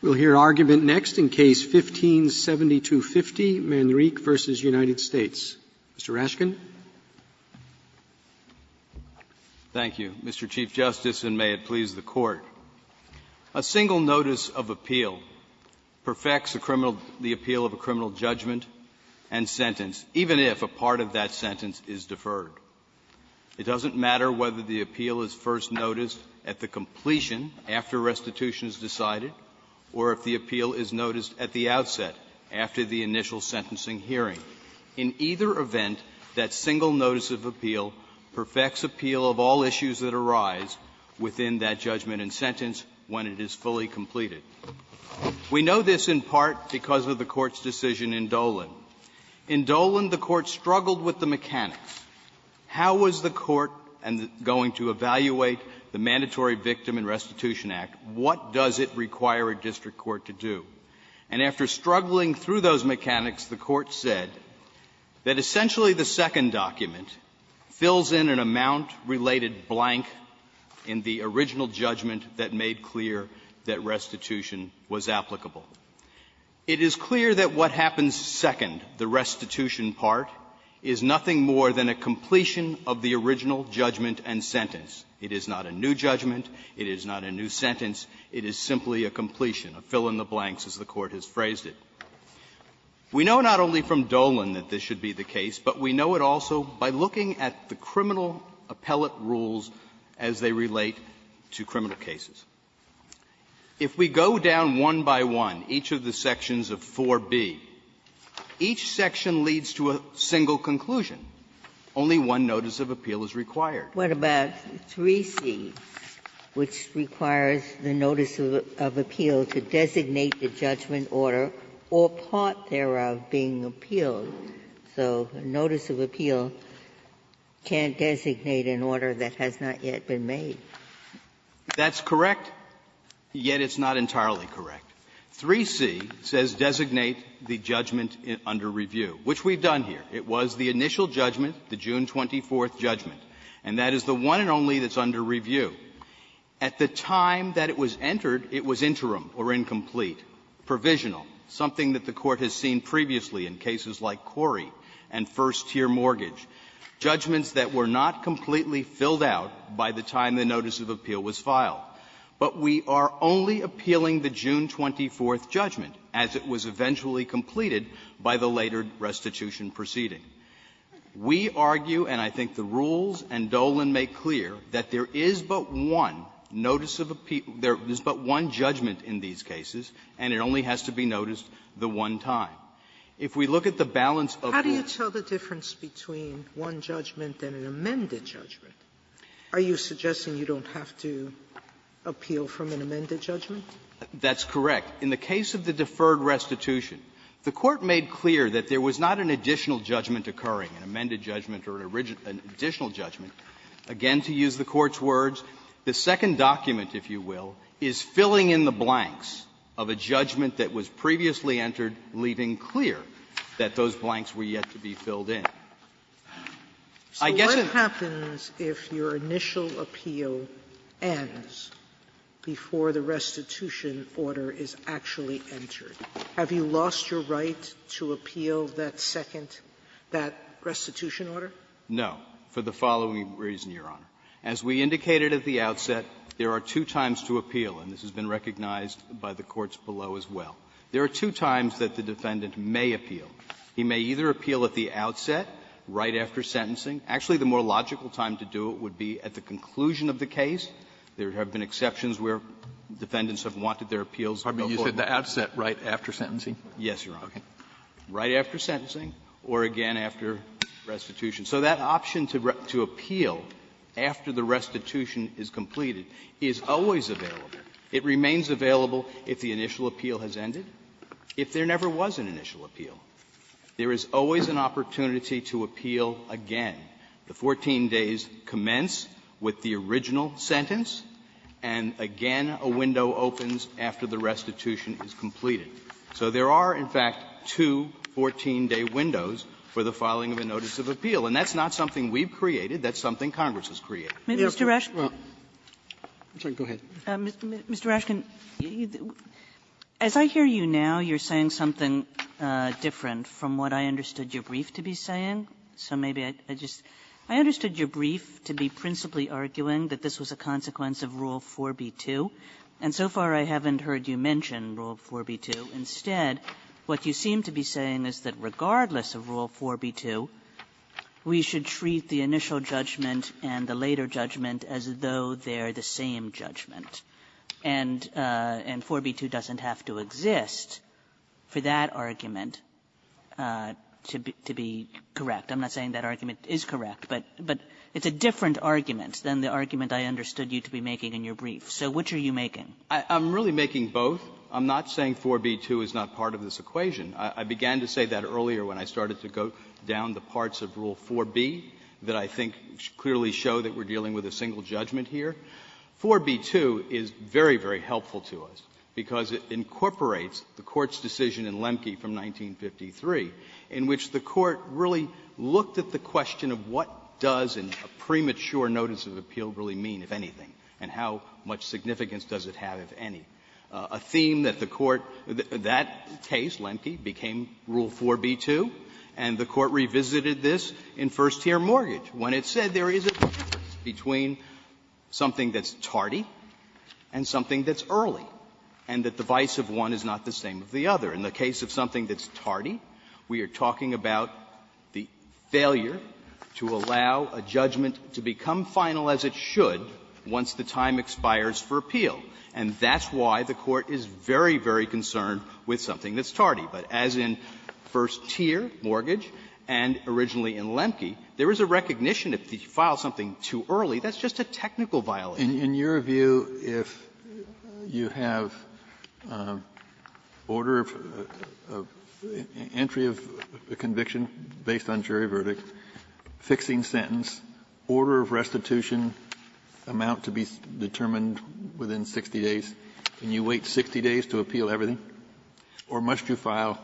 We'll hear argument next in Case No. 15-7250, Manrique v. United States. Mr. Raskin. Raskin, Mr. Chief Justice, and may it please the Court. A single notice of appeal perfects a criminal the appeal of a criminal judgment and sentence, even if a part of that sentence is deferred. It doesn't matter whether the appeal is first noticed at the completion, after restitution is decided, or if the appeal is noticed at the outset, after the initial sentencing hearing. In either event, that single notice of appeal perfects appeal of all issues that arise within that judgment and sentence when it is fully completed. We know this in part because of the Court's decision in Dolan. In Dolan, the Court struggled with the mechanics. How was the Court going to evaluate the Mandatory Victim and Restitution Act? What does it require a district court to do? And after struggling through those mechanics, the Court said that essentially the second document fills in an amount-related blank in the original judgment that made clear that restitution was applicable. It is clear that what happens second, the restitution part, is nothing more than a completion of the original judgment and sentence. It is not a new judgment. It is not a new sentence. It is simply a completion, a fill in the blanks, as the Court has phrased it. We know not only from Dolan that this should be the case, but we know it also by looking at the criminal appellate rules as they relate to criminal cases. If we go down one by one, each of the sections of 4b, each section leads to a single conclusion. Only one notice of appeal is required. Ginsburg. What about 3c, which requires the notice of appeal to designate the judgment order or part thereof being appealed? So notice of appeal can't designate an order that has not yet been made. That's correct, yet it's not entirely correct. 3c says designate the judgment under review, which we've done here. It was the initial judgment, the June 24th judgment. And that is the one and only that's under review. At the time that it was entered, it was interim or incomplete, provisional, something that the Court has seen previously in cases like Corey and first-tier mortgage, judgments that were not completely filled out by the time the notice of appeal was filed. But we are only appealing the June 24th judgment as it was eventually completed by the later restitution proceeding. We argue, and I think the rules and Dolan make clear, that there is but one notice of appeal – there is but one judgment in these cases, and it only has to be noticed the one time. If we look at the balance of the court's rules of appeal, there is only one judgment and an amended judgment. Are you suggesting you don't have to appeal from an amended judgment? That's correct. In the case of the deferred restitution, the Court made clear that there was not an additional judgment occurring, an amended judgment or an additional judgment. Again, to use the Court's words, the second document, if you will, is filling in the blanks of a judgment that was previously entered, leaving clear that those blanks were yet to be filled in. I guess in the other case, the Court made clear that there was not an additional judgment occurring, an amended judgment or an additional judgment. Sotomayor, have you lost your right to appeal that second – that restitution order? No, for the following reason, Your Honor. As we indicated at the outset, there are two times to appeal, and this has been recognized by the courts below as well. There are two times that the defendant may appeal. He may either appeal at the outset, right after sentencing. Actually, the more logical time to do it would be at the conclusion of the case. There have been exceptions where defendants have wanted their appeals to go forward. You said the outset right after sentencing? Yes, Your Honor. Okay. Right after sentencing or again after restitution. So that option to appeal after the restitution is completed is always available. It remains available if the initial appeal has ended. If there never was an initial appeal, there is always an opportunity to appeal again. The 14 days commence with the original sentence, and again a window opens after the restitution is completed. So there are, in fact, two 14-day windows for the filing of a notice of appeal. And that's not something we've created. That's something Congress has created. Mr. Raskin – Well, go ahead. Mr. Raskin, as I hear you now, you're saying something different from what I understood your brief to be saying. So maybe I just – I understood your brief to be principally arguing that this was a consequence of Rule 4b2. And so far I haven't heard you mention Rule 4b2. Instead, what you seem to be saying is that regardless of Rule 4b2, we should treat the initial judgment and the later judgment as though they're the same judgment. And 4b2 doesn't have to exist for that argument to be correct. I'm not saying that argument is correct, but it's a different argument than the argument I understood you to be making in your brief. So which are you making? Raskin, I'm really making both. I'm not saying 4b2 is not part of this equation. I began to say that earlier when I started to go down the parts of Rule 4b that I think clearly show that we're dealing with a single judgment here. 4b2 is very, very helpful to us because it incorporates the Court's decision in Lemke from 1953 in which the Court really looked at the question of what does a premature notice of appeal really mean, if anything, and how much significance does it have, if any, a theme that the Court that case, Lemke, became Rule 4b2, and the Court revisited this in first-tier mortgage when it said there is a difference between something that's tardy and something that's early, and that the vice of one is not the same of the other. In the case of something that's tardy, we are talking about the failure to allow a judgment to become final as it should once the time expires for appeal. And that's why the Court is very, very concerned with something that's tardy. But as in first-tier mortgage and originally in Lemke, there is a recognition that if you file something too early, that's just a technical violation. Kennedy, in your view, if you have order of entry of a conviction based on jury verdict, fixing sentence, order of restitution amount to be determined within 60 days, can you wait 60 days to appeal everything? Or must you file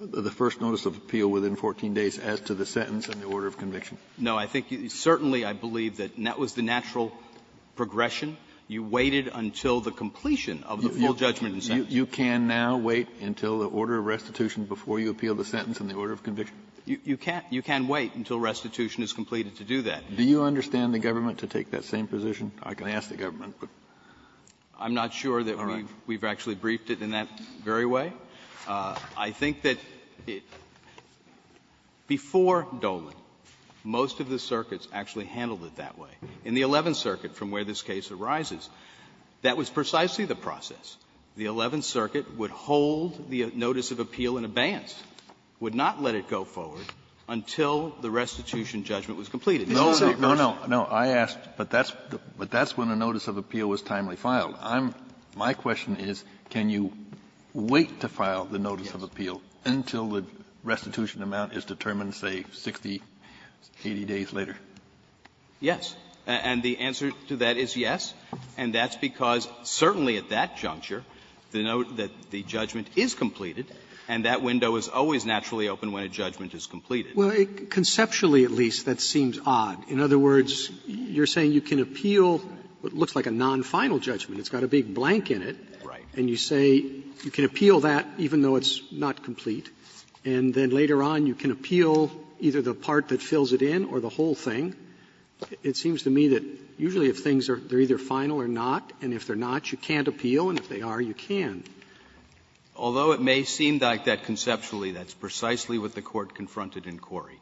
the first notice of appeal within 14 days as to the sentence and the order of conviction? No. I think you certainly, I believe, that that was the natural progression. You waited until the completion of the full judgment and sentence. You can now wait until the order of restitution before you appeal the sentence and the order of conviction? You can't. You can wait until restitution is completed to do that. Do you understand the government to take that same position? I can ask the government. I'm not sure that we've actually briefed it in that very way. I think that before Dolan, most of the circuits actually handled it that way. In the Eleventh Circuit, from where this case arises, that was precisely the process. The Eleventh Circuit would hold the notice of appeal in abeyance, would not let it go forward, until the restitution judgment was completed. Isn't that what you're asking? No, no, no. I asked, but that's when the notice of appeal was timely filed. I'm my question is, can you wait to file the notice of appeal until the restitution amount is determined, say, 60, 80 days later? Yes. And the answer to that is yes. And that's because certainly at that juncture, the judgment is completed, and that judgment is completed. Well, conceptually, at least, that seems odd. In other words, you're saying you can appeal what looks like a non-final judgment. It's got a big blank in it. Right. And you say you can appeal that even though it's not complete, and then later on you can appeal either the part that fills it in or the whole thing. It seems to me that usually if things are either final or not, and if they're not, you can't appeal, and if they are, you can. Although it may seem like that conceptually, that's precisely what the Court confronted in Cori,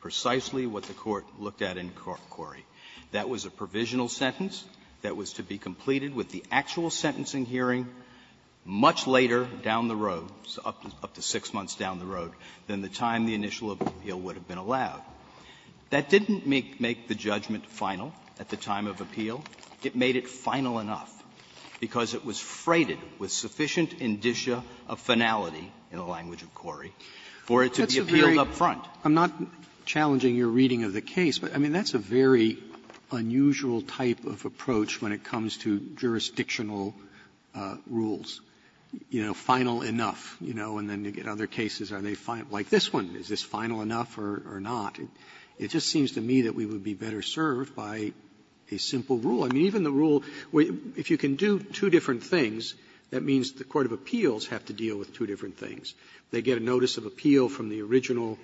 precisely what the Court looked at in Cori. That was a provisional sentence that was to be completed with the actual sentencing hearing much later down the road, up to six months down the road, than the time the initial appeal would have been allowed. That didn't make the judgment final at the time of appeal. It made it final enough because it was freighted with sufficient indicia of finality in the language of Cori for it to be appealed up front. Roberts. I'm not challenging your reading of the case, but, I mean, that's a very unusual type of approach when it comes to jurisdictional rules. You know, final enough, you know, and then you get other cases, are they final enough, like this one, is this final enough or not? It just seems to me that we would be better served by a simple rule. I mean, even the rule, if you can do two different things, that means the court of appeals have to deal with two different things. They get a notice of appeal from the original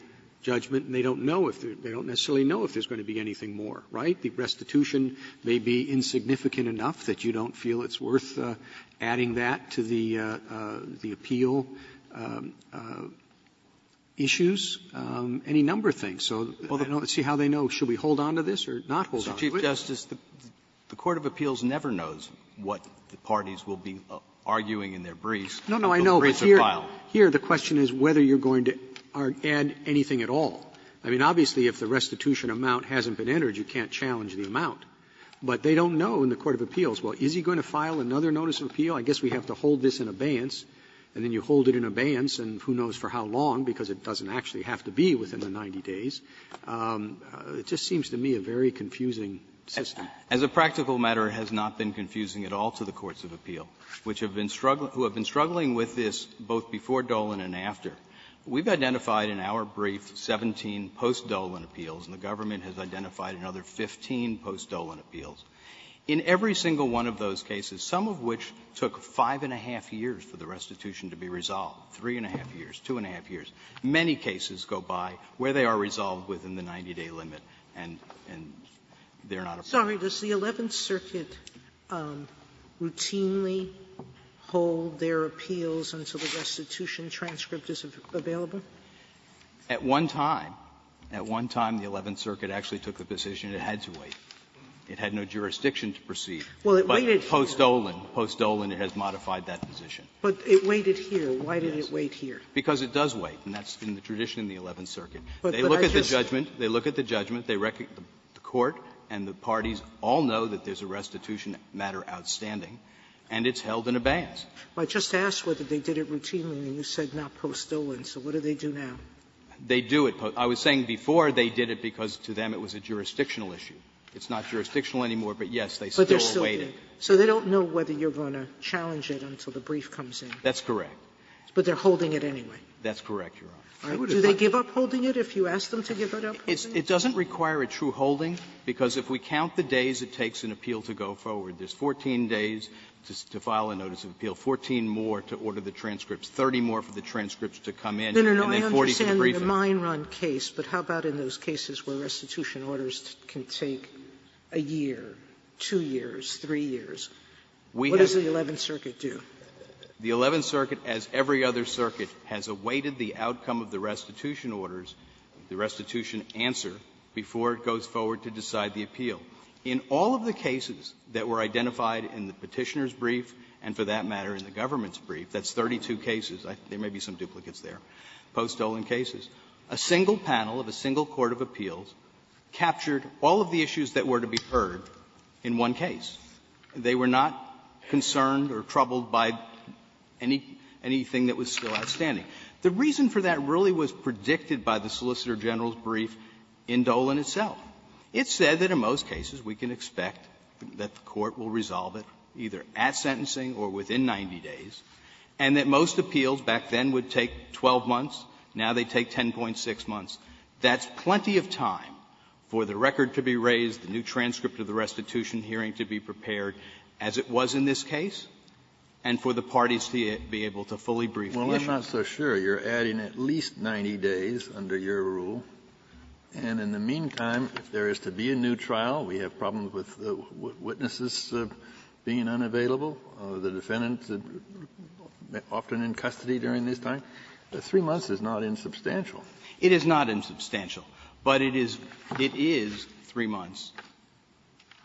judgment, and they don't know if there they don't necessarily know if there's going to be anything more, right? The restitution may be insignificant enough that you don't feel it's worth adding that to the appeal issues. Any number of things. So let's see how they know. Should we hold on to this or not hold on to it? Roberts, the court of appeals never knows what the parties will be arguing in their briefs. Roberts, here the question is whether you're going to add anything at all. I mean, obviously, if the restitution amount hasn't been entered, you can't challenge the amount. But they don't know in the court of appeals, well, is he going to file another notice of appeal? I guess we have to hold this in abeyance. And then you hold it in abeyance, and who knows for how long, because it doesn't actually have to be within the 90 days. It just seems to me a very confusing system. As a practical matter, it has not been confusing at all to the courts of appeal, which have been struggling with this both before Dolan and after. We've identified in our brief 17 post-Dolan appeals, and the government has identified another 15 post-Dolan appeals. In every single one of those cases, some of which took five and a half years for the restitution to be resolved, three and a half years, two and a half years. Many cases go by where they are resolved within the 90-day limit, and they're not a problem. Sotomayor, does the Eleventh Circuit routinely hold their appeals until the restitution transcript is available? At one time, at one time, the Eleventh Circuit actually took the position it had to wait. It had no jurisdiction to proceed. But post-Dolan, post-Dolan, it has modified that position. But it waited here. Why did it wait here? Because it does wait, and that's been the tradition in the Eleventh Circuit. They look at the judgment. They look at the judgment. The court and the parties all know that there's a restitution matter outstanding, and it's held in abeyance. I just asked whether they did it routinely, and you said not post-Dolan. So what do they do now? They do it. I was saying before they did it because to them it was a jurisdictional issue. It's not jurisdictional anymore, but, yes, they still await it. So they don't know whether you're going to challenge it until the brief comes in. That's correct. But they're holding it anyway. That's correct, Your Honor. Do they give up holding it if you ask them to give it up? It doesn't require a true holding, because if we count the days it takes an appeal to go forward, there's 14 days to file a notice of appeal, 14 more to order the transcripts, 30 more for the transcripts to come in, and then 40 for the briefing. No, no, no. I understand the mine run case, but how about in those cases where restitution orders can take a year, two years, three years? What does the Eleventh Circuit do? The Eleventh Circuit, as every other circuit, has awaited the outcome of the restitution orders, the restitution answer, before it goes forward to decide the appeal. In all of the cases that were identified in the Petitioner's brief and, for that matter, in the government's brief, that's 32 cases. There may be some duplicates there, post-Dolan cases. A single panel of a single court of appeals captured all of the issues that were to be heard in one case. They were not concerned or troubled by anything that was still outstanding. The reason for that really was predicted by the Solicitor General's brief in Dolan itself. It said that in most cases we can expect that the Court will resolve it either at sentencing or within 90 days, and that most appeals back then would take 12 months. Now they take 10.6 months. That's plenty of time for the record to be raised, the new transcript of the restitution hearing to be prepared, as it was in this case, and for the parties to be able to fully brief the appeals. Kennedy. Well, I'm not so sure. You're adding at least 90 days under your rule. And in the meantime, if there is to be a new trial, we have problems with the witnesses being unavailable, the defendants often in custody during this time. Three months is not insubstantial. It is not insubstantial, but it is three months.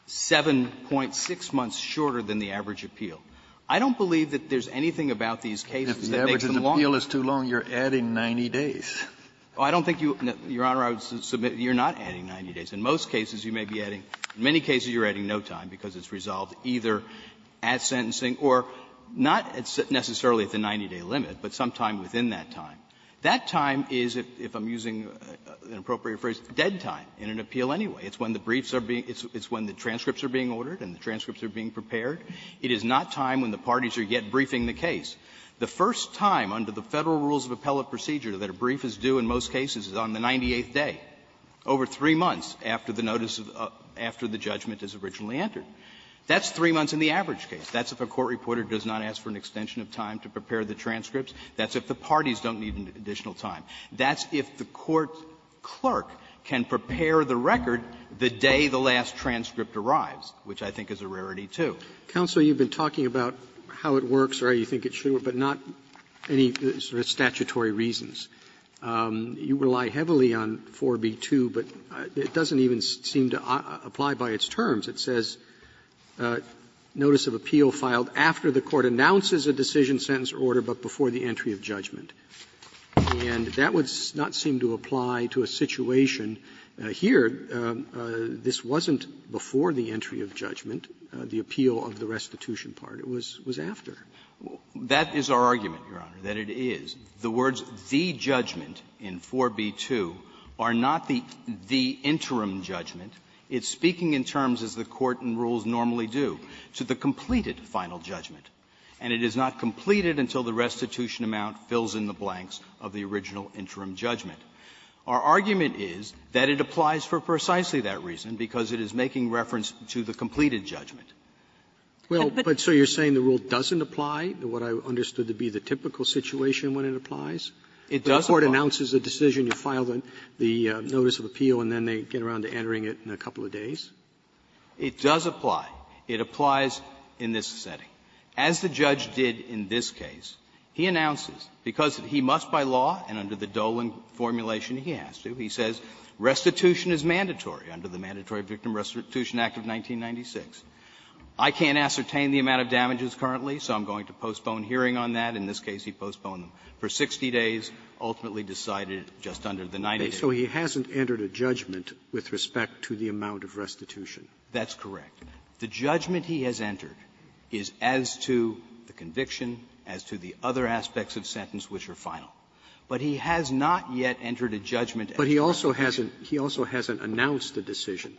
Seven-point-six months shorter than the average appeal. I don't believe that there's anything about these cases that makes them longer. If the average appeal is too long, you're adding 90 days. Oh, I don't think you, Your Honor, I would submit you're not adding 90 days. In most cases, you may be adding. In many cases, you're adding no time because it's resolved either at sentencing or not necessarily at the 90-day limit, but sometime within that time. That time is, if I'm using an appropriate phrase, dead time in an appeal anyway. It's when the briefs are being – it's when the transcripts are being ordered and the transcripts are being prepared. It is not time when the parties are yet briefing the case. The first time under the Federal rules of appellate procedure that a brief is due in most cases is on the 98th day, over three months after the notice of – after the judgment is originally entered. That's three months in the average case. That's if a court reporter does not ask for an extension of time to prepare the transcripts. That's if the parties don't need additional time. That's if the court clerk can prepare the record the day the last transcript arrives, which I think is a rarity, too. Roberts, you've been talking about how it works or how you think it should work, but not any sort of statutory reasons. You rely heavily on 4b-2, but it doesn't even seem to apply by its terms. It says notice of appeal filed after the court announces a decision, sentence or order, but before the entry of judgment. And that would not seem to apply to a situation here. This wasn't before the entry of judgment, the appeal of the restitution part. It was after. That is our argument, Your Honor, that it is. The words, the judgment, in 4b-2 are not the interim judgment. It's speaking in terms as the court and rules normally do, to the completed final judgment. And it is not completed until the restitution amount fills in the blanks of the original interim judgment. Our argument is that it applies for precisely that reason because it is making reference to the completed judgment. Roberts, so you're saying the rule doesn't apply to what I understood to be the typical situation when it applies? It does apply. The court announces a decision, you file the notice of appeal, and then they get around to entering it in a couple of days? It does apply. It applies in this setting. As the judge did in this case, he announces, because he must by law, and under the Dolan formulation he has to, he says restitution is mandatory under the Mandatory Victim Restitution Act of 1996. I can't ascertain the amount of damages currently, so I'm going to postpone hearing on that. In this case, he postponed them for 60 days, ultimately decided just under the 90 days. So he hasn't entered a judgment with respect to the amount of restitution? That's correct. The judgment he has entered is as to the conviction, as to the other aspects of sentence which are final. But he has not yet entered a judgment as to the amount of restitution. But he also hasn't announced a decision.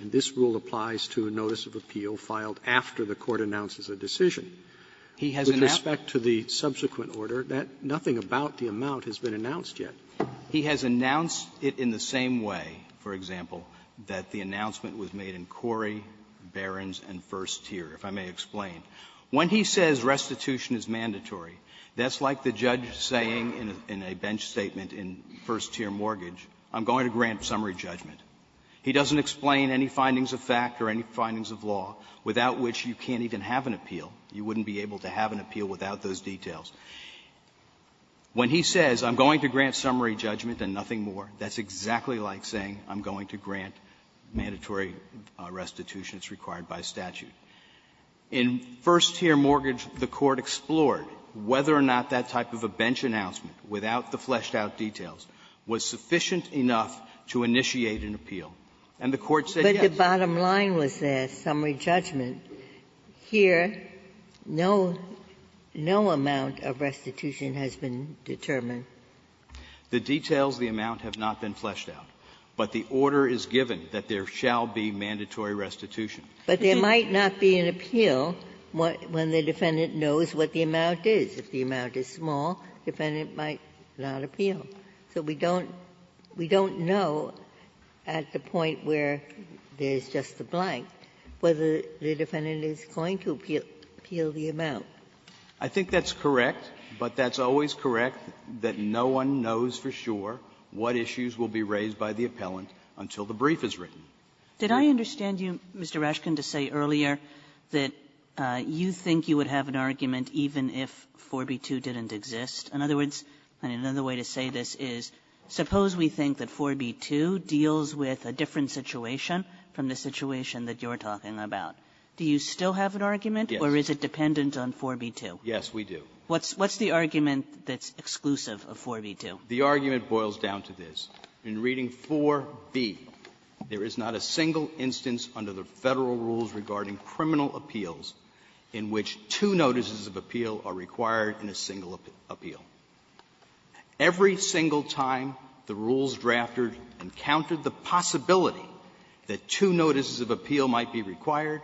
And this rule applies to a notice of appeal filed after the court announces a decision. He hasn't asked to the subsequent order that nothing about the amount has been announced yet. He has announced it in the same way, for example, that the announcement was made in Corey, Barron's, and first tier, if I may explain. When he says restitution is mandatory, that's like the judge saying in a bench statement in first-tier mortgage, I'm going to grant summary judgment. He doesn't explain any findings of fact or any findings of law, without which you can't even have an appeal. You wouldn't be able to have an appeal without those details. When he says, I'm going to grant summary judgment and nothing more, that's exactly like saying I'm going to grant mandatory restitution as required by statute. In first-tier mortgage, the Court explored whether or not that type of a bench announcement, without the fleshed-out details, was sufficient enough to initiate an appeal. And the Court said yes. Ginsburg. But the bottom line was there, summary judgment. Here, no amount of restitution has been determined. The details of the amount have not been fleshed out. But the order is given that there shall be mandatory restitution. But there might not be an appeal when the defendant knows what the amount is. If the amount is small, the defendant might not appeal. So we don't know at the point where there's just a blank whether the defendant is going to appeal the amount. I think that's correct, but that's always correct, that no one knows for sure what issues will be raised by the appellant until the brief is written. Kagan. Kagan. Did I understand you, Mr. Raskin, to say earlier that you think you would have an argument even if 4B2 didn't exist? In other words, and another way to say this is suppose we think that 4B2 deals with a different situation from the situation that you're talking about. Do you still have an argument? Yes. Or is it dependent on 4B2? Yes, we do. What's the argument that's exclusive of 4B2? The argument boils down to this. In reading 4B, there is not a single instance under the Federal rules regarding criminal appeals in which two notices of appeal are required in a single appeal. Every single time the rules drafted encountered the possibility that two notices of appeal might be required,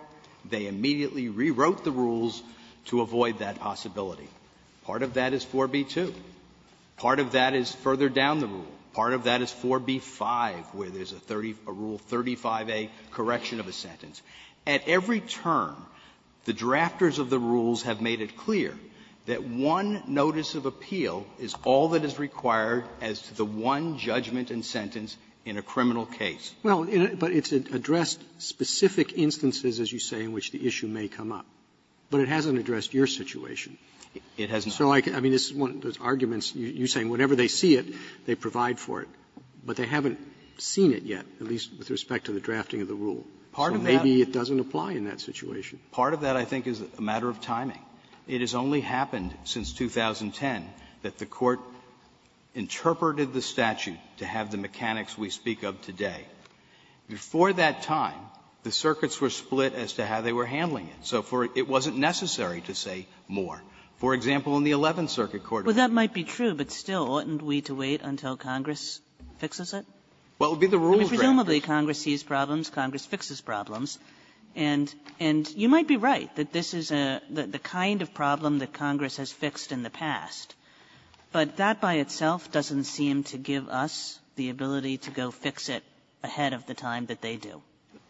they immediately rewrote the rules to avoid that possibility. Part of that is 4B2. Part of that is further down the rule. Part of that is 4B5, where there's a rule 35A correction of a sentence. At every term, the drafters of the rules have made it clear that one notice of appeal is all that is required as to the one judgment and sentence in a criminal case. Well, but it's addressed specific instances, as you say, in which the issue may come up, but it hasn't addressed your situation. It hasn't. So I mean, this is one of those arguments. You're saying whenever they see it, they provide for it, but they haven't seen it yet, at least with respect to the drafting of the rule. So maybe it doesn't apply in that situation. Part of that, I think, is a matter of timing. It has only happened since 2010 that the Court interpreted the statute to have the Before that time, the circuits were split as to how they were handling it, so it wasn't necessary to say more. For example, in the Eleventh Circuit Court. Kagan. Kagan. Well, that might be true, but still, wouldn't we have to wait until Congress Well, it would be the rules that would be fixed. Presumably Congress sees problems. Congress fixes problems. And you might be right that this is the kind of problem that Congress has fixed in the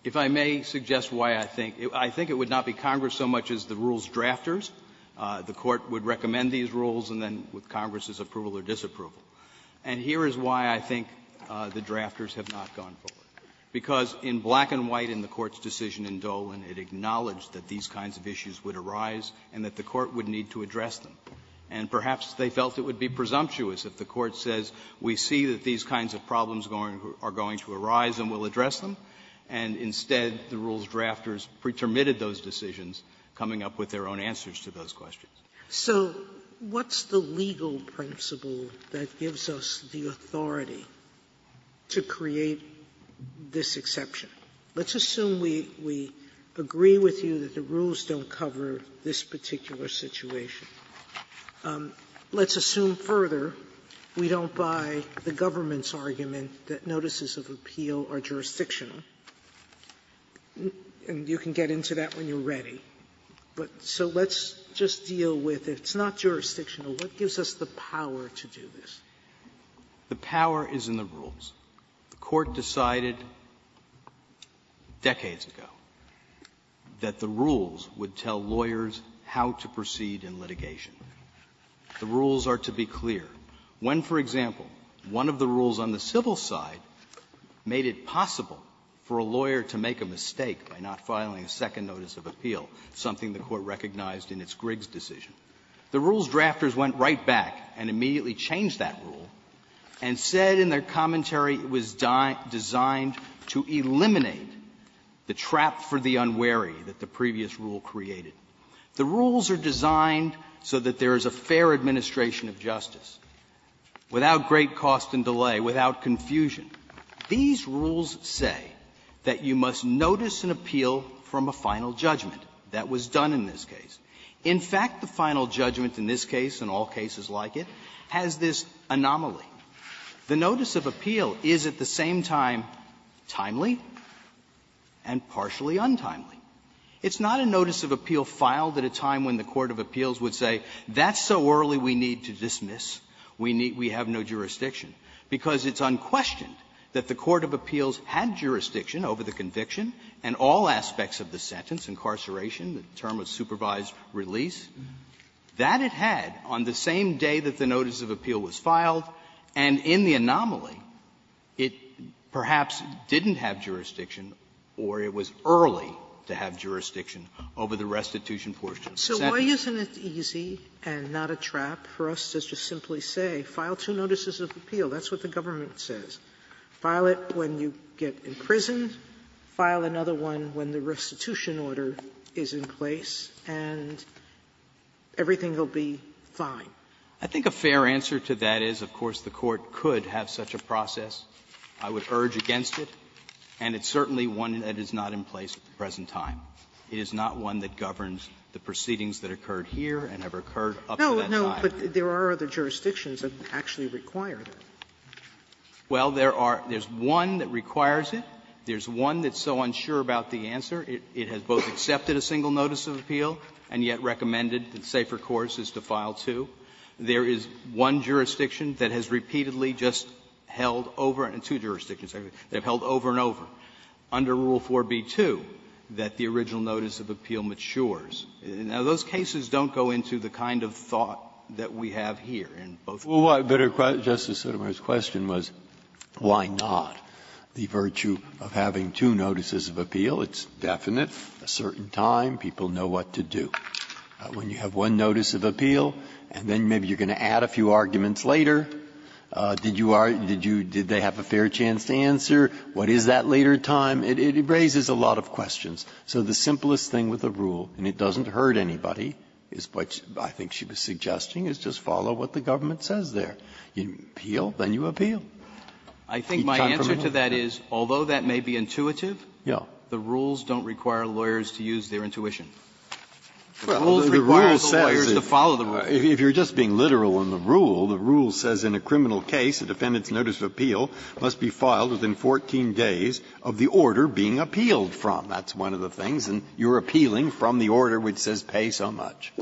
If I may suggest why I think – I think it would not be Congress so much as the rules drafters. The Court would recommend these rules, and then with Congress's approval or disapproval. And here is why I think the drafters have not gone forward. Because in black and white in the Court's decision in Dolan, it acknowledged that these kinds of issues would arise and that the Court would need to address them. And perhaps they felt it would be presumptuous if the Court says, we see that these kinds of problems are going to arise, and we'll address them. And instead, the rules drafters pretermitted those decisions, coming up with their own answers to those questions. Sotomayor So what's the legal principle that gives us the authority to create this exception? Let's assume we agree with you that the rules don't cover this particular situation. Let's assume, further, we don't buy the government's argument that notices of appeal are jurisdictional. And you can get into that when you're ready. But so let's just deal with it. It's not jurisdictional. What gives us the power to do this? The power is in the rules. The Court decided decades ago that the rules would tell lawyers how to proceed in litigation. The rules are to be clear. When, for example, one of the rules on the civil side made it possible for a lawyer to make a mistake by not filing a second notice of appeal, something the Court recognized in its Griggs decision, the rules drafters went right back and immediately changed that rule, and said in their commentary it was designed to eliminate the trap for the unwary that the previous rule created. The rules are designed so that there is a fair administration of justice, without great cost and delay, without confusion. These rules say that you must notice an appeal from a final judgment. That was done in this case. In fact, the final judgment in this case and all cases like it has this anomaly. The notice of appeal is at the same time timely and partially untimely. It's not a notice of appeal filed at a time when the court of appeals would say that's so early we need to dismiss, we need to have no jurisdiction, because it's unquestioned that the court of appeals had jurisdiction over the conviction and all aspects of the sentence, incarceration, the term of supervised release. That it had on the same day that the notice of appeal was filed, and in the anomaly, it perhaps didn't have jurisdiction or it was early to have jurisdiction over the restitution portion of the sentence. Sotomayor, so why isn't it easy and not a trap for us to just simply say, file two notices of appeal? That's what the government says. File it when you get imprisoned. File another one when the restitution order is in place, and everything will be fine. I think a fair answer to that is, of course, the court could have such a process. I would urge against it. And it's certainly one that is not in place at the present time. It is not one that governs the proceedings that occurred here and have occurred up to that time. No, but there are other jurisdictions that actually require that. Well, there are one that requires it. There's one that's so unsure about the answer, it has both accepted a single notice of appeal and yet recommended that the safer course is to file two. There is one jurisdiction that has repeatedly just held over and two jurisdictions, they have held over and over, under Rule 4b2, that the original notice of appeal matures. Now, those cases don't go into the kind of thought that we have here in both of them. Breyer's question was, why not? The virtue of having two notices of appeal, it's definite, a certain time, people know what to do. When you have one notice of appeal, and then maybe you're going to add a few arguments later, did you argue, did you, did they have a fair chance to answer, what is that later time? It raises a lot of questions. So the simplest thing with the rule, and it doesn't hurt anybody, is what I think she was suggesting, is just follow what the government says there. You appeal, then you appeal. He confirmed that? I think my answer to that is, although that may be intuitive, the rules don't require lawyers to use their intuition. The rules require the lawyers to follow the rules. If you're just being literal in the rule, the rule says in a criminal case, a defendant's notice of appeal must be filed within 14 days of the order being appealed from. That's one of the things. And you're appealing from the order which says pay so much.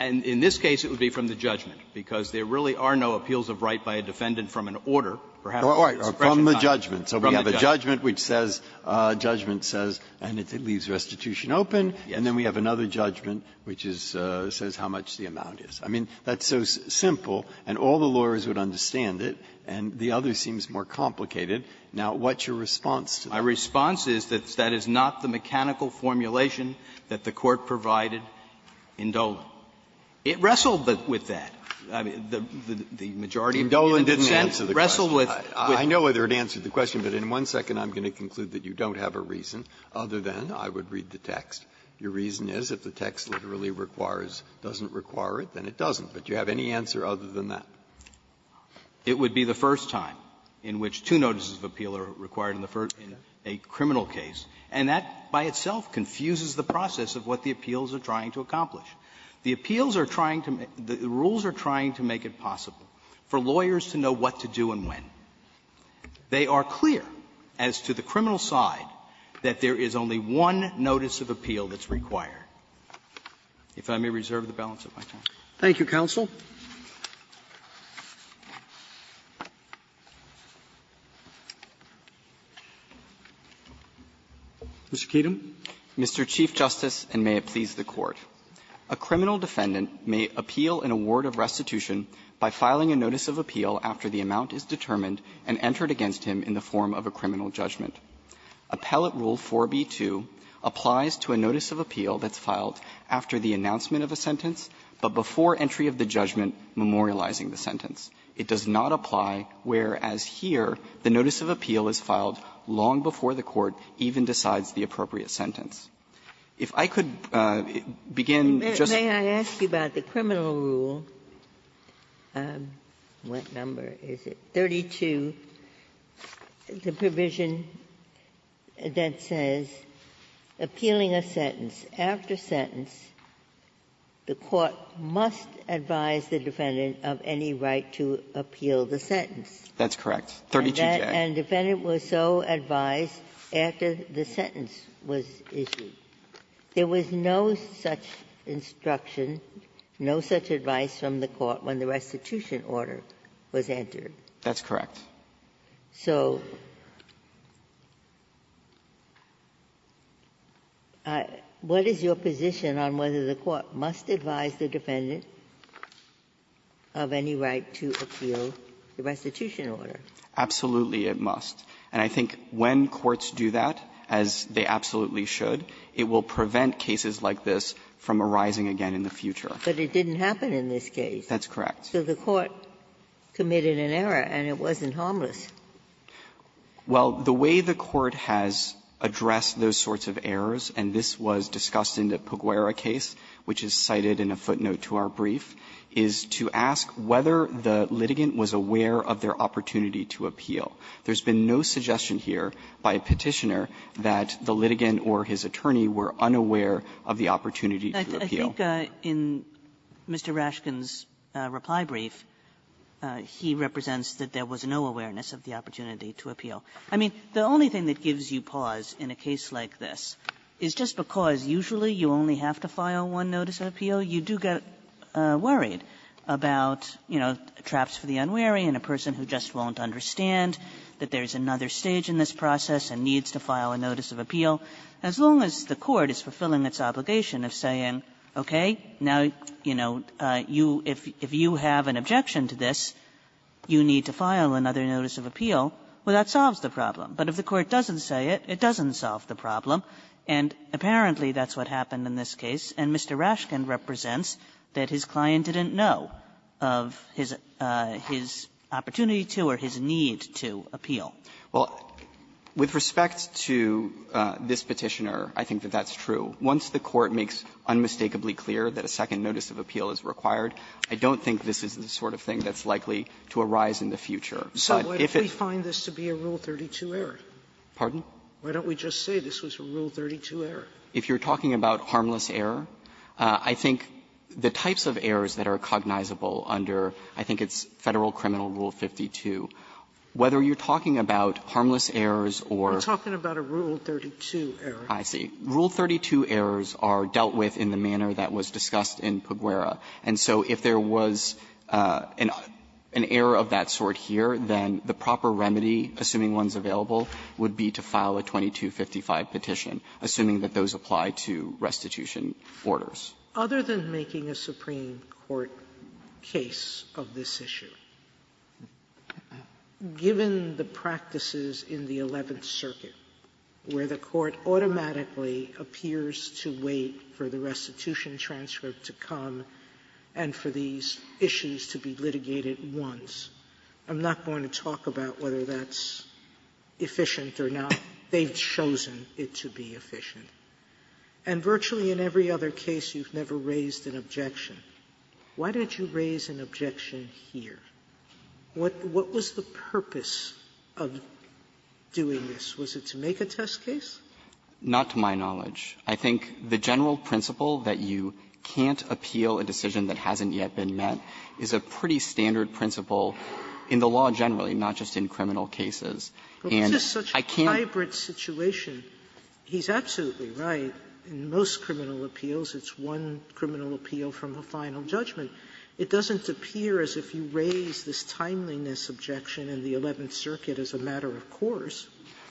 And in this case, it would be from the judgment, because there really are no appeals of right by a defendant from an order. Perhaps the expression is not from the judgment. Breyer. So we have a judgment which says, judgment says, and it leaves restitution open, and then we have another judgment which is, says how much the amount is. I mean, that's so simple, and all the lawyers would understand it, and the other seems more complicated. Now, what's your response to that? My response is that that is not the mechanical formulation that the Court provided in Dolan. It wrestled with that. I mean, the majority of the defense wrestled with the question. Breyer. I know whether it answered the question, but in one second, I'm going to conclude that you don't have a reason other than I would read the text. Your reason is if the text literally requires or doesn't require it, then it doesn't. But do you have any answer other than that? It would be the first time in which two notices of appeal are required in the first in a criminal case. And that, by itself, confuses the process of what the appeals are trying to accomplish. The appeals are trying to make the rules are trying to make it possible for lawyers to know what to do and when. They are clear as to the criminal side that there is only one notice of appeal that's required. If I may reserve the balance of my time. Roberts. Thank you, counsel. Mr. Keaton. Mr. Chief Justice, and may it please the Court. A criminal defendant may appeal an award of restitution by filing a notice of appeal after the amount is determined and entered against him in the form of a criminal judgment. Appellate Rule 4b-2 applies to a notice of appeal that's filed after the announcement of a sentence, but before entry of the judgment memorializing the sentence. It does not apply whereas here the notice of appeal is filed long before the court even decides the appropriate sentence. If I could begin, Justice Kagan. Ginsburg. May I ask you about the criminal rule, what number is it, 32, the provision that says appealing a sentence after sentence, the court must advise the defendant of any right to appeal the sentence? That's correct. 32J. And defendant was so advised after the sentence was issued. There was no such instruction, no such advice from the court when the restitution order was entered. That's correct. So what is your position on whether the court must advise the defendant of any right to appeal the restitution order? Absolutely it must. And I think when courts do that, as they absolutely should, it will prevent cases like this from arising again in the future. But it didn't happen in this case. That's correct. So the court committed an error, and it wasn't harmless. Well, the way the court has addressed those sorts of errors, and this was discussed in the Puguera case, which is cited in a footnote to our brief, is to ask whether the litigant was aware of their opportunity to appeal. There's been no suggestion here by a Petitioner that the litigant or his attorney were unaware of the opportunity to appeal. Kagan in Mr. Rashkind's reply brief, he represents that there was no awareness of the opportunity to appeal. I mean, the only thing that gives you pause in a case like this is just because usually you only have to file one notice of appeal, you do get worried about, you know, traps for the unwary and a person who just won't understand that there's another stage in this process and needs to file a notice of appeal, as long as the litigant says, okay, now, you know, you – if you have an objection to this, you need to file another notice of appeal. Well, that solves the problem. But if the court doesn't say it, it doesn't solve the problem. And apparently, that's what happened in this case. And Mr. Rashkind represents that his client didn't know of his – his opportunity to or his need to appeal. Well, with respect to this Petitioner, I think that that's true. Once the court makes unmistakably clear that a second notice of appeal is required, I don't think this is the sort of thing that's likely to arise in the future. But if it's – Sotomayor, if we find this to be a Rule 32 error? Pardon? Why don't we just say this was a Rule 32 error? If you're talking about harmless error, I think the types of errors that are cognizable under, I think it's Federal Criminal Rule 52, whether you're talking about harmless errors or – We're talking about a Rule 32 error. I see. Rule 32 errors are dealt with in the manner that was discussed in Peguera. And so if there was an error of that sort here, then the proper remedy, assuming one's available, would be to file a 2255 petition, assuming that those apply to restitution orders. Sotomayor, other than making a Supreme Court case of this issue, given the practices in the Eleventh Circuit, where the Court automatically appears to wait for the restitution transcript to come and for these issues to be litigated once, I'm not going to talk about whether that's efficient or not. They've chosen it to be efficient. And virtually in every other case, you've never raised an objection. Why don't you raise an objection here? What was the purpose of doing this? Was it to make a test case? Not to my knowledge. I think the general principle that you can't appeal a decision that hasn't yet been met is a pretty standard principle in the law generally, not just in criminal And I can't raise an objection. But it's just such a hybrid situation. He's absolutely right. In most criminal appeals, it's one criminal appeal from a final judgment. It doesn't appear as if you raise this timeliness objection in the Eleventh Circuit as a matter of course.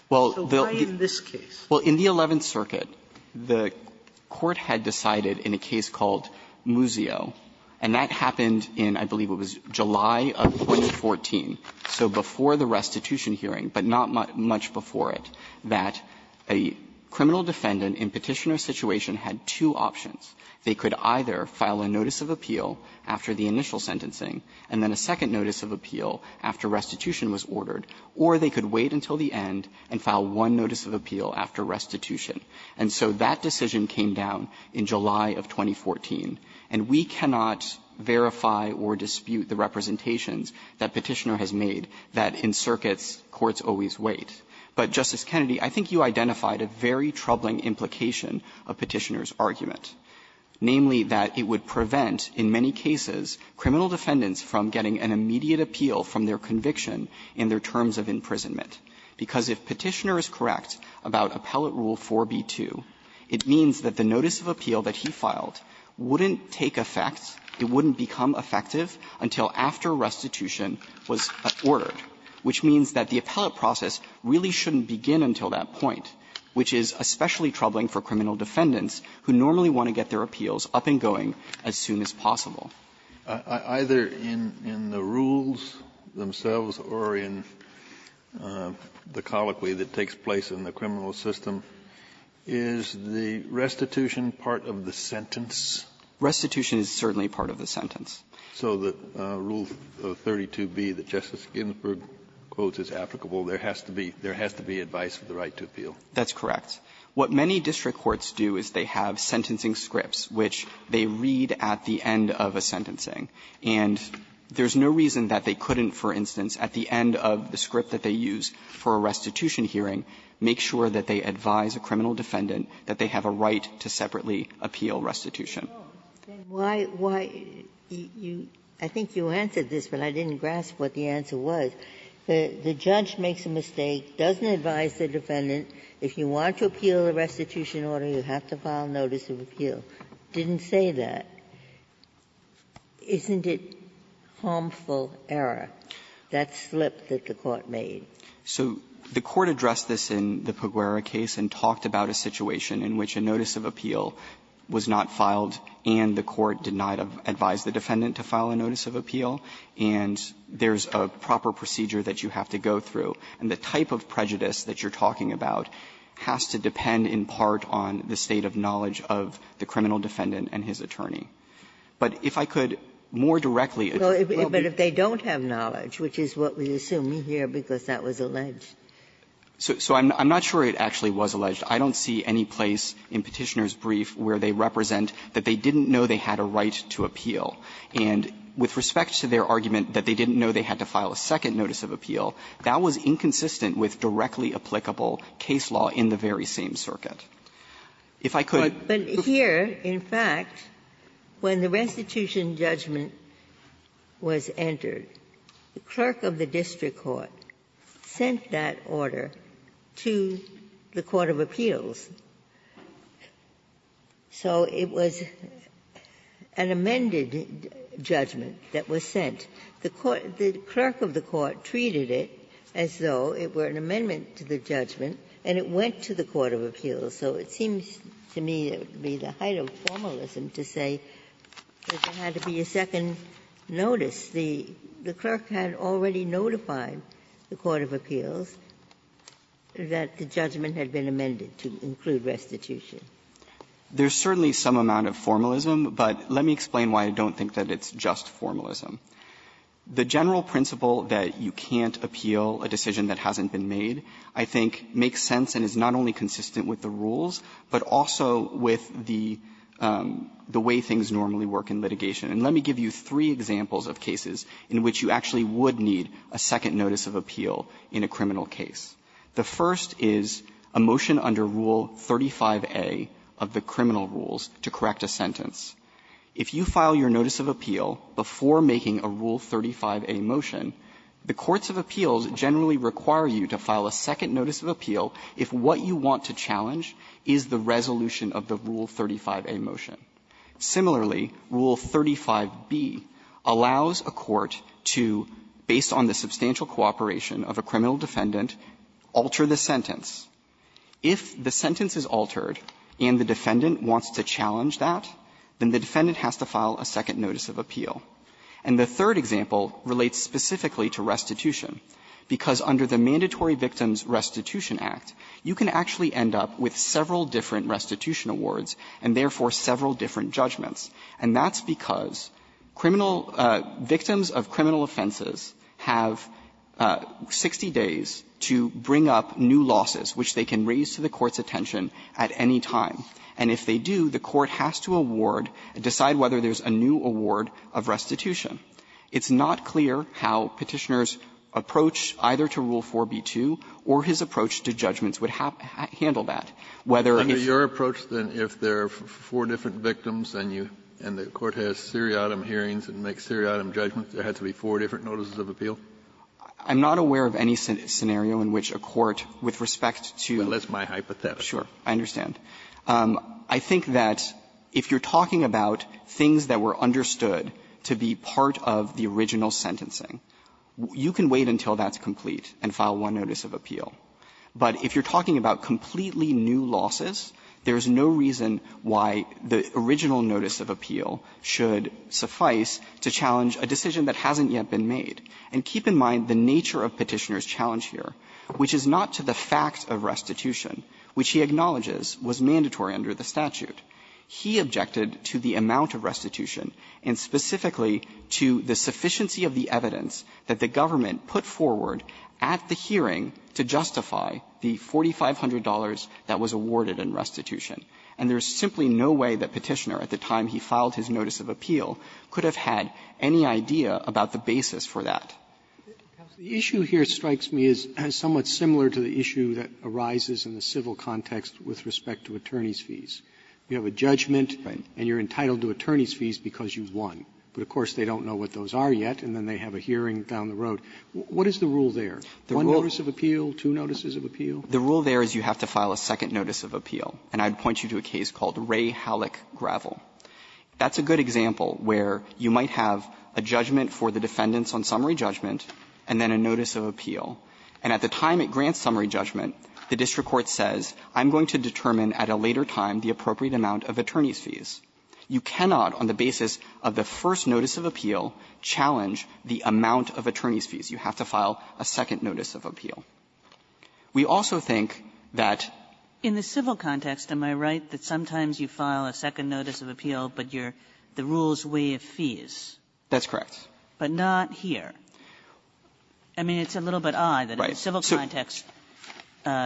So why in this case? Well, in the Eleventh Circuit, the Court had decided in a case called Muzio, and that happened in, I believe it was July of 2014, so before the restitution hearing, but not much before it, that a criminal defendant in Petitioner's situation had two options. They could either file a notice of appeal after the initial sentencing and then a second notice of appeal after restitution was ordered, or they could wait until the end and file one notice of appeal after restitution. And so that decision came down in July of 2014. And we cannot verify or dispute the representations that Petitioner has made that in circuits, courts always wait. But, Justice Kennedy, I think you identified a very troubling implication of Petitioner's argument. Namely, that it would prevent, in many cases, criminal defendants from getting an immediate appeal from their conviction in their terms of imprisonment. Because if Petitioner is correct about Appellate Rule 4b-2, it means that the notice of appeal that he filed wouldn't take effect, it wouldn't become effective, until after restitution was ordered, which means that the appellate process really shouldn't begin until that point, which is especially troubling for criminal defendants who normally want to get their appeals up and going as soon as possible. Kennedy, in the rules themselves or in the colloquy that takes place in the criminal system, is the restitution part of the sentence? Restitution is certainly part of the sentence. So the Rule 32b that Justice Ginsburg quotes is applicable. There has to be advice for the right to appeal. That's correct. What many district courts do is they have sentencing scripts, which they read at the end of a sentencing. And there's no reason that they couldn't, for instance, at the end of the script that they use for a restitution hearing, make sure that they advise a criminal defendant that they have a right to separately appeal restitution. Ginsburg, I think you answered this, but I didn't grasp what the answer was. The judge makes a mistake, doesn't advise the defendant. If you want to appeal a restitution order, you have to file a notice of appeal. It didn't say that. Isn't it harmful error, that slip that the Court made? So the Court addressed this in the Peguera case and talked about a situation in which a notice of appeal was not filed and the Court did not advise the defendant to file a notice of appeal, and there's a proper procedure that you have to go through. And the type of prejudice that you're talking about has to depend in part on the state of knowledge of the criminal defendant and his attorney. But if I could more directly address the case. Ginsburg. But if they don't have knowledge, which is what we assume here, because that was alleged. So I'm not sure it actually was alleged. I don't see any place in Petitioner's brief where they represent that they didn't know they had a right to appeal. And with respect to their argument that they didn't know they had to file a second notice of appeal, that was inconsistent with directly applicable case law in the very same circuit. If I could go to the court. Ginsburg. But here, in fact, when the restitution judgment was entered, the clerk of the district court sent that order to the court of appeals. So it was an amended judgment that was sent. The clerk of the court treated it as though it were an amendment to the judgment, and it went to the court of appeals. So it seems to me it would be the height of formalism to say that there had to be a second notice. The clerk had already notified the court of appeals that the judgment had been amended to include restitution. There's certainly some amount of formalism, but let me explain why I don't think that it's just formalism. The general principle that you can't appeal a decision that hasn't been made, I think, makes sense and is not only consistent with the rules, but also with the way things normally work in litigation. And let me give you three examples of cases in which you actually would need a second notice of appeal in a criminal case. The first is a motion under Rule 35a of the criminal rules to correct a sentence. If you file your notice of appeal before making a Rule 35a motion, the courts of appeals generally require you to file a second notice of appeal if what you want to challenge is the resolution of the Rule 35a motion. Similarly, Rule 35b allows a court to, based on the substantial cooperation of a criminal defendant, alter the sentence. If the sentence is altered and the defendant wants to challenge that, the notice of appeal is changed, then the defendant has to file a second notice of appeal. And the third example relates specifically to restitution, because under the Mandatory Victims Restitution Act, you can actually end up with several different restitution awards and, therefore, several different judgments, and that's because criminal victims of criminal offenses have 60 days to bring up new losses, which they can raise to the court's attention at any time. And if they do, the court has to award, decide whether there's a new award of restitution. It's not clear how Petitioner's approach either to Rule 4b-2 or his approach to judgments would handle that. Whether he's going to be able to decide whether there's a new award of restitution. Kennedy, under your approach, then, if there are four different victims and you and the court has seriatim hearings and makes seriatim judgments, there had to be four different notices of appeal? That's my hypothesis. Sure. I understand. I think that if you're talking about things that were understood to be part of the original sentencing, you can wait until that's complete and file one notice of appeal. But if you're talking about completely new losses, there's no reason why the original notice of appeal should suffice to challenge a decision that hasn't yet been made. And keep in mind the nature of Petitioner's challenge here, which is not to the fact that the amount of restitution, which he acknowledges was mandatory under the statute, he objected to the amount of restitution and specifically to the sufficiency of the evidence that the government put forward at the hearing to justify the $4,500 that was awarded in restitution. And there's simply no way that Petitioner, at the time he filed his notice of appeal, could have had any idea about the basis for that. Roberts, the issue here strikes me as somewhat similar to the issue that arises in the civil context with respect to attorneys' fees. You have a judgment and you're entitled to attorneys' fees because you've won. But, of course, they don't know what those are yet, and then they have a hearing down the road. What is the rule there? One notice of appeal, two notices of appeal? The rule there is you have to file a second notice of appeal, and I'd point you to a case called Ray Halleck Gravel. That's a good example where you might have a judgment for the defendants on summary judgment and then a notice of appeal. And at the time it grants summary judgment, the district court says, I'm going to determine at a later time the appropriate amount of attorneys' fees. You cannot, on the basis of the first notice of appeal, challenge the amount of attorneys' fees. You have to file a second notice of appeal. We also think that the civil context, am I right, that sometimes you file a second notice of appeal, but you're the rule's way of fees? That's correct. But not here. I mean, it's a little bit odd that in the civil context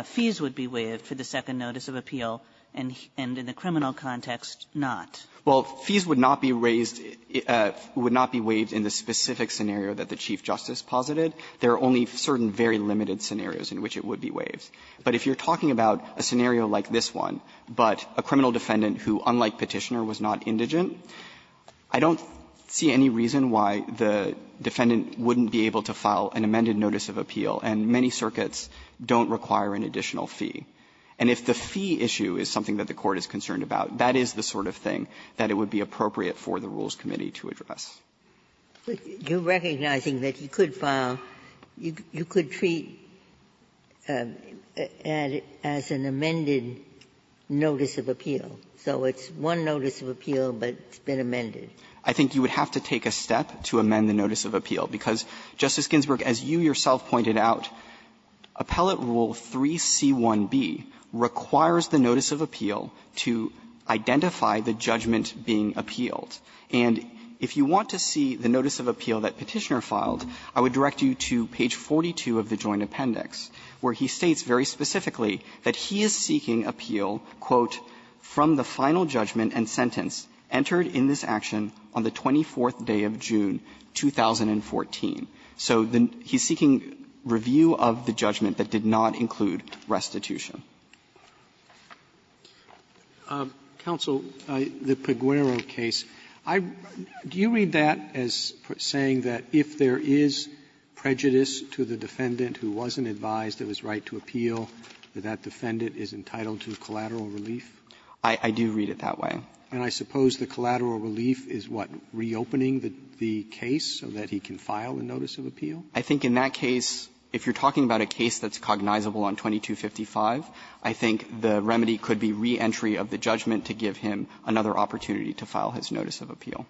fees would be waived for the second notice of appeal, and in the criminal context, not. Well, fees would not be raised or would not be waived in the specific scenario that the Chief Justice posited. There are only certain very limited scenarios in which it would be waived. But if you're talking about a scenario like this one, but a criminal defendant who, unlike Petitioner, was not indigent, I don't see any reason why the defendant wouldn't be able to file an amended notice of appeal, and many circuits don't require an additional fee. And if the fee issue is something that the Court is concerned about, that is the sort of thing that it would be appropriate for the Rules Committee to address. Ginsburg. You're recognizing that you could file, you could treat as an amended notice of appeal. So it's one notice of appeal, but it's been amended. I think you would have to take a step to amend the notice of appeal, because, Justice Ginsburg, as you yourself pointed out, Appellate Rule 3C1B requires the notice of appeal to identify the judgment being appealed. And if you want to see the notice of appeal that Petitioner filed, I would direct you to page 42 of the Joint Appendix, where he states very specifically that he is seeking appeal, quote, "...from the final judgment and sentence entered in this action on the 24th day of June 2014." So he's seeking review of the judgment that did not include restitution. Roberts. Counsel, the Peguero case, I do you read that as saying that if there is prejudice to the defendant who wasn't advised of his right to appeal, that that defendant is entitled to collateral relief? I do read it that way. And I suppose the collateral relief is what, reopening the case so that he can file a notice of appeal? I think in that case, if you're talking about a case that's cognizable on 2255, I think the remedy could be reentry of the judgment to give him another opportunity to file his notice of appeal.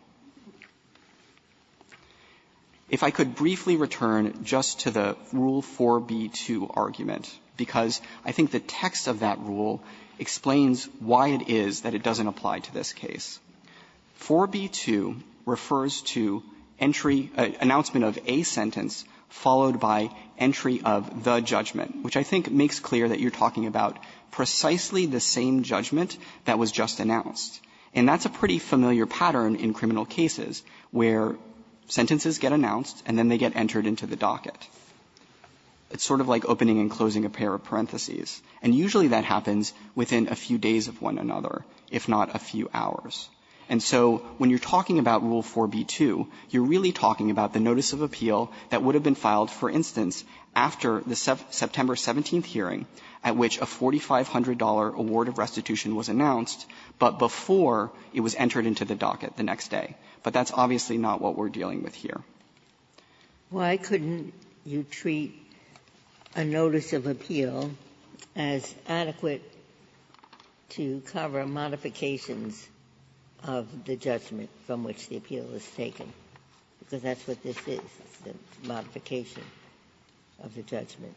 If I could briefly return just to the Rule 4b-2 argument, because I think the text of that rule explains why it is that it doesn't apply to this case. 4b-2 refers to entry, announcement of a sentence, followed by entry of the judgment, which I think makes clear that you're talking about precisely the same judgment that was just announced. And that's a pretty familiar pattern in criminal cases, where sentences get announced and then they get entered into the docket. It's sort of like opening and closing a pair of parentheses, and usually that happens within a few days of one another, if not a few hours. And so when you're talking about Rule 4b-2, you're really talking about the notice of appeal that would have been filed, for instance, after the September 17th hearing, at which a $4,500 award of restitution was announced, but before it was entered into the docket the next day. But that's obviously not what we're dealing with here. Ginsburg. Why couldn't you treat a notice of appeal as adequate to cover modifications of the judgment from which the appeal is taken? Because that's what this is, the modification of the judgment.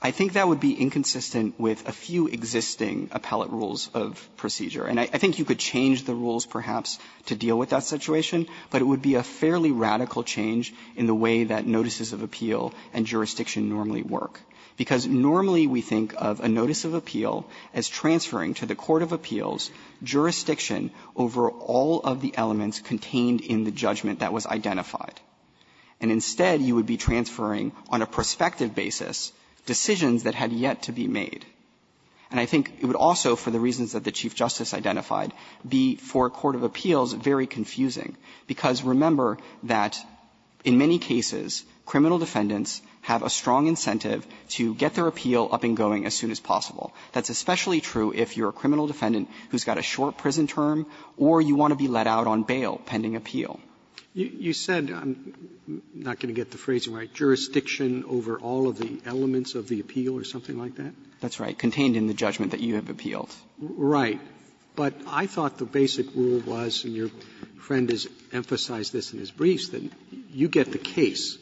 I think that would be inconsistent with a few existing appellate rules of procedure. And I think you could change the rules, perhaps, to deal with that situation, but it would be a fairly radical change in the way that notices of appeal and jurisdiction normally work. Because normally we think of a notice of appeal as transferring to the court of appeals jurisdiction over all of the elements contained in the judgment that was identified. And instead, you would be transferring, on a prospective basis, decisions that had yet to be made. And I think it would also, for the reasons that the Chief Justice identified, be for a court of appeals very confusing. Because remember that in many cases, criminal defendants have a strong incentive to get their appeal up and going as soon as possible. That's especially true if you're a criminal defendant who's got a short prison term or you want to be let out on bail pending appeal. Roberts You said, I'm not going to get the phrasing right, jurisdiction over all of the elements of the appeal or something like that? That's right. Contained in the judgment that you have appealed. Right. But I thought the basic rule was, and your friend has emphasized this in his briefs, that you get the case.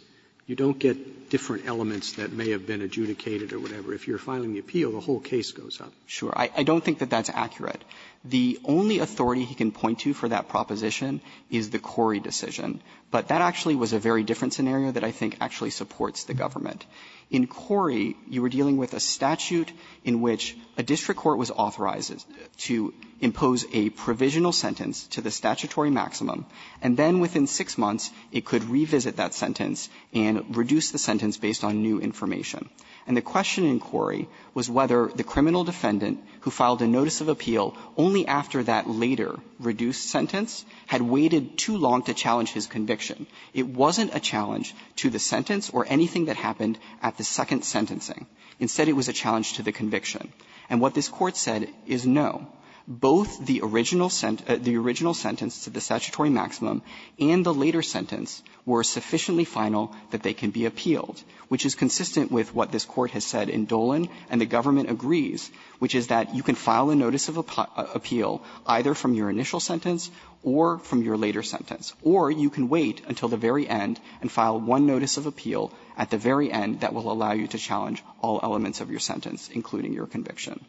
You don't get different elements that may have been adjudicated or whatever. If you're filing the appeal, the whole case goes up. Sure. I don't think that that's accurate. The only authority he can point to for that proposition is the Cori decision. But that actually was a very different scenario that I think actually supports the government. In Cori, you were dealing with a statute in which a district court was authorized to impose a provisional sentence to the statutory maximum, and then within six months it could revisit that sentence and reduce the sentence based on new information. And the question in Cori was whether the criminal defendant who filed a notice of appeal only after that later reduced sentence had waited too long to challenge his conviction. It wasn't a challenge to the sentence or anything that happened at the second sentencing. Instead, it was a challenge to the conviction. And what this Court said is, no, both the original sentence to the statutory maximum and the later sentence were sufficiently final that they can be appealed, which is consistent with what this Court has said in Dolan and the government agrees, which is that you can file a notice of appeal either from your initial sentence or from your later sentence, or you can wait until the very end and file one notice of appeal at the very end that will allow you to challenge all elements of your sentence, including your conviction.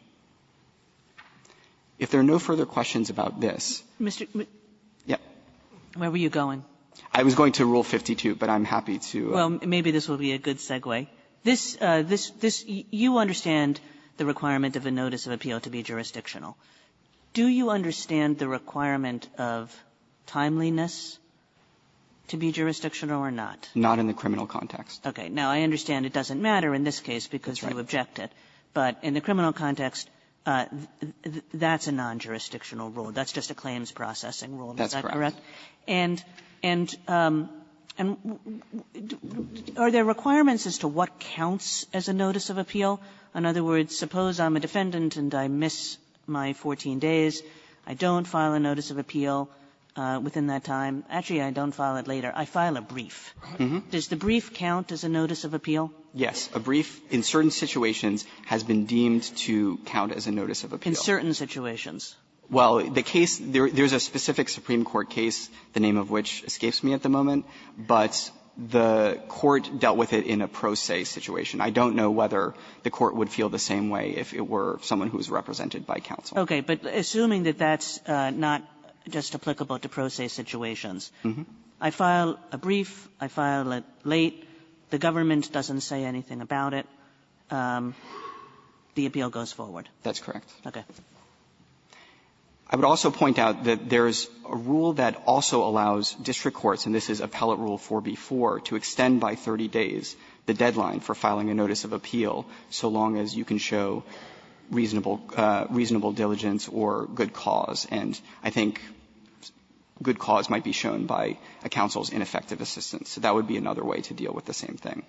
If there are no further questions about this ---- Kagan. Mr. ---- Yeah. Where were you going? I was going to Rule 52, but I'm happy to ---- Well, maybe this will be a good segue. This ---- this ---- you understand the requirement of a notice of appeal to be jurisdictional. Do you understand the requirement of timeliness to be jurisdictional or not? Not in the criminal context. Okay. Now, I understand it doesn't matter in this case because you objected. But in the criminal context, that's a non-jurisdictional rule. That's just a claims processing rule. That's correct. And are there requirements as to what counts as a notice of appeal? In other words, suppose I'm a defendant and I miss my 14 days. I don't file a notice of appeal within that time. Actually, I don't file it later. I file a brief. Does the brief count as a notice of appeal? Yes. A brief in certain situations has been deemed to count as a notice of appeal. In certain situations? Well, the case ---- there's a specific Supreme Court case, the name of which escapes me at the moment, but the Court dealt with it in a pro se situation. I don't know whether the Court would feel the same way if it were someone who was represented by counsel. Okay. But assuming that that's not just applicable to pro se situations, I file a brief, I file it late, the government doesn't say anything about it, the appeal goes forward. That's correct. Okay. I would also point out that there's a rule that also allows district courts, and this is appellate rule 4b-4, to extend by 30 days the deadline for filing a notice of appeal so long as you can show reasonable ---- reasonable diligence or good cause. And I think good cause might be shown by a counsel's ineffective assistance. That would be another way to deal with the same thing.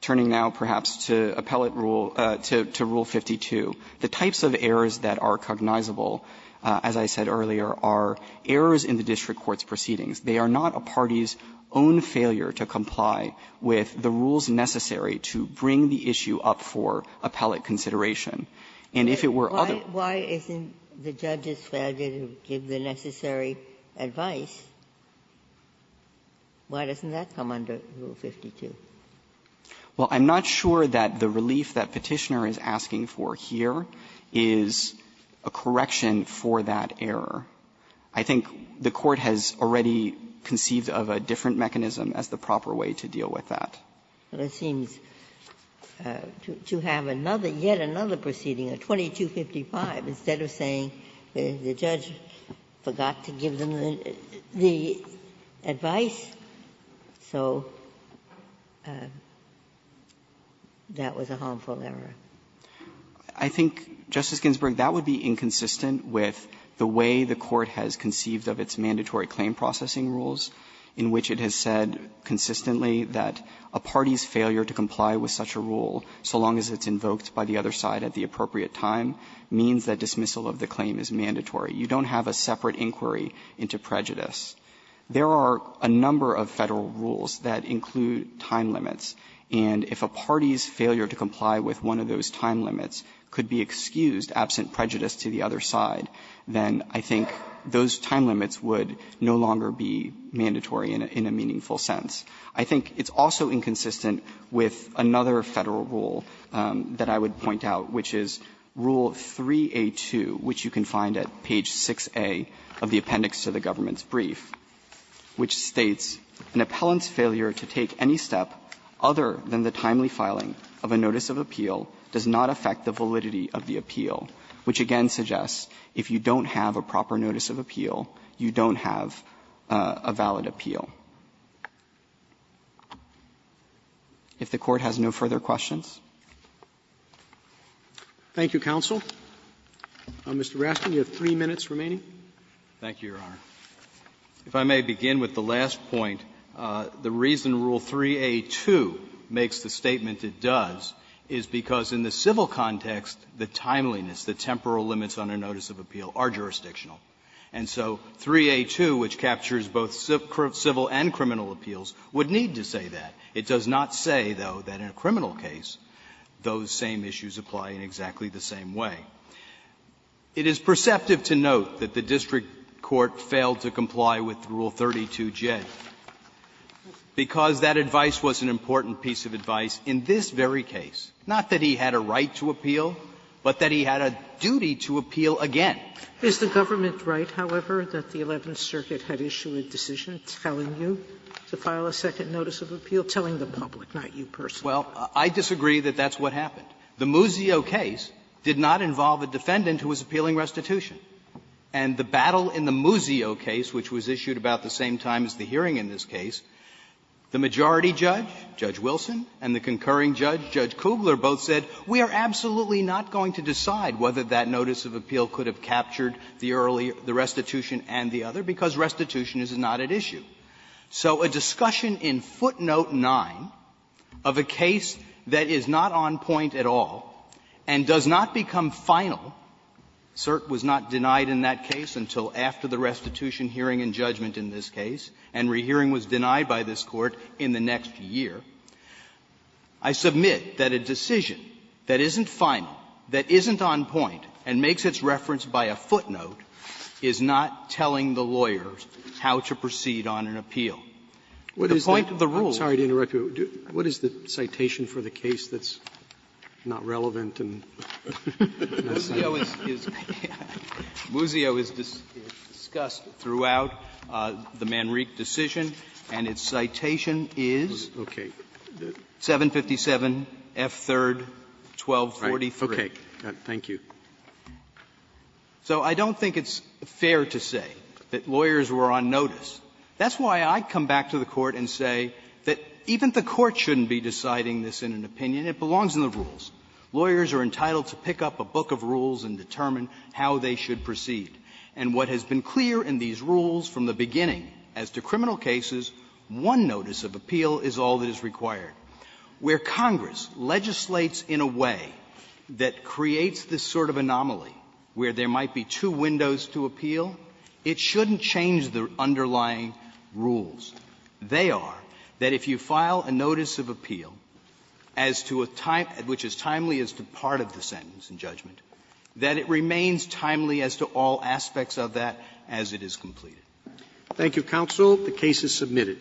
Turning now, perhaps, to appellate rule ---- to rule 52, the types of errors that are cognizable, as I said earlier, are errors in the district court's proceedings. They are not a party's own failure to comply with the rules necessary to bring the issue up for appellate consideration. And if it were other ---- Why isn't the judge's failure to give the necessary advice? Why doesn't that come under Rule 52? Well, I'm not sure that the relief that Petitioner is asking for here is a correction for that error. I think the Court has already conceived of a different mechanism as the proper way to deal with that. But it seems to have another, yet another proceeding, a 2255, instead of saying that the judge forgot to give them the advice, so that was a harmful error. I think, Justice Ginsburg, that would be inconsistent with the way the Court has conceived of its mandatory claim processing rules, in which it has said consistently that a party's failure to comply with such a rule, so long as it's invoked by the other side at the appropriate time, means that dismissal of the claim is mandatory. You don't have a separate inquiry into prejudice. There are a number of Federal rules that include time limits, and if a party's failure to comply with one of those time limits could be excused, absent prejudice to the other side, then I think those time limits would no longer be mandatory in a meaningful sense. I think it's also inconsistent with another Federal rule that I would point out, which is Rule 3a2, which you can find at page 6a of the appendix to the government's brief, which states, an appellant's failure to take any step other than the timely filing of a notice of appeal does not affect the validity of the appeal, which again suggests if you don't have a proper notice of appeal, you don't have a valid appeal. If the Court has no further questions. Roberts. Thank you, counsel. Mr. Raskin, you have three minutes remaining. Raskin. Thank you, Your Honor. If I may begin with the last point, the reason Rule 3a2 makes the statement it does is because in the civil context, the timeliness, the temporal limits on a notice of appeal are jurisdictional. And so 3a2, which captures both civil and criminal appeals, would need to say that. It does not say, though, that in a criminal case, those same issues apply in exactly the same way. It is perceptive to note that the district court failed to comply with Rule 32J, because that advice was an important piece of advice in this very case, not that he had a right to appeal, but that he had a duty to appeal again. Is the government right, however, that the Eleventh Circuit had issued a decision telling you to file a second notice of appeal, telling the public, not you personally? Well, I disagree that that's what happened. The Muzio case did not involve a defendant who was appealing restitution. And the battle in the Muzio case, which was issued about the same time as the hearing in this case, the majority judge, Judge Wilson, and the concurring judge, Judge Kugler, both said, we are absolutely not going to decide whether that notice of appeal could have captured the early restitution and the other, because restitution is not at issue. So a discussion in footnote 9 of a case that is not on point at all and does not become final, cert was not denied in that case until after the restitution hearing and judgment in this case, and rehearing was denied by this Court in the next year, I submit that a decision that isn't final, that isn't on point, and makes its reference by a footnote, is not telling the lawyers how to proceed on an appeal. The point of the rule was that the court is not going to decide whether that notice of appeal is on point or not. The point of the rule is that the court is not going to decide whether or not a decision is on point. That's my question. So I don't think it's fair to say that lawyers were on notice. That's why I'd come back to the Court and say that even the Court shouldn't be deciding this in an opinion and it belongs in the rules. Lawyers are entitled to pick up a book of rules and determine how they should proceed. And what has been clear in these rules from the beginning as to criminal cases, one notice of appeal is all that is required. Where Congress legislates in a way that creates this sort of anomaly where there might be two windows to appeal, it shouldn't change the underlying rules. They are that if you file a notice of appeal as to a time at which is timely as to part of the sentence in judgment, that it remains timely as to all aspects of that as it is completed. Roberts. Thank you, counsel. The case is submitted.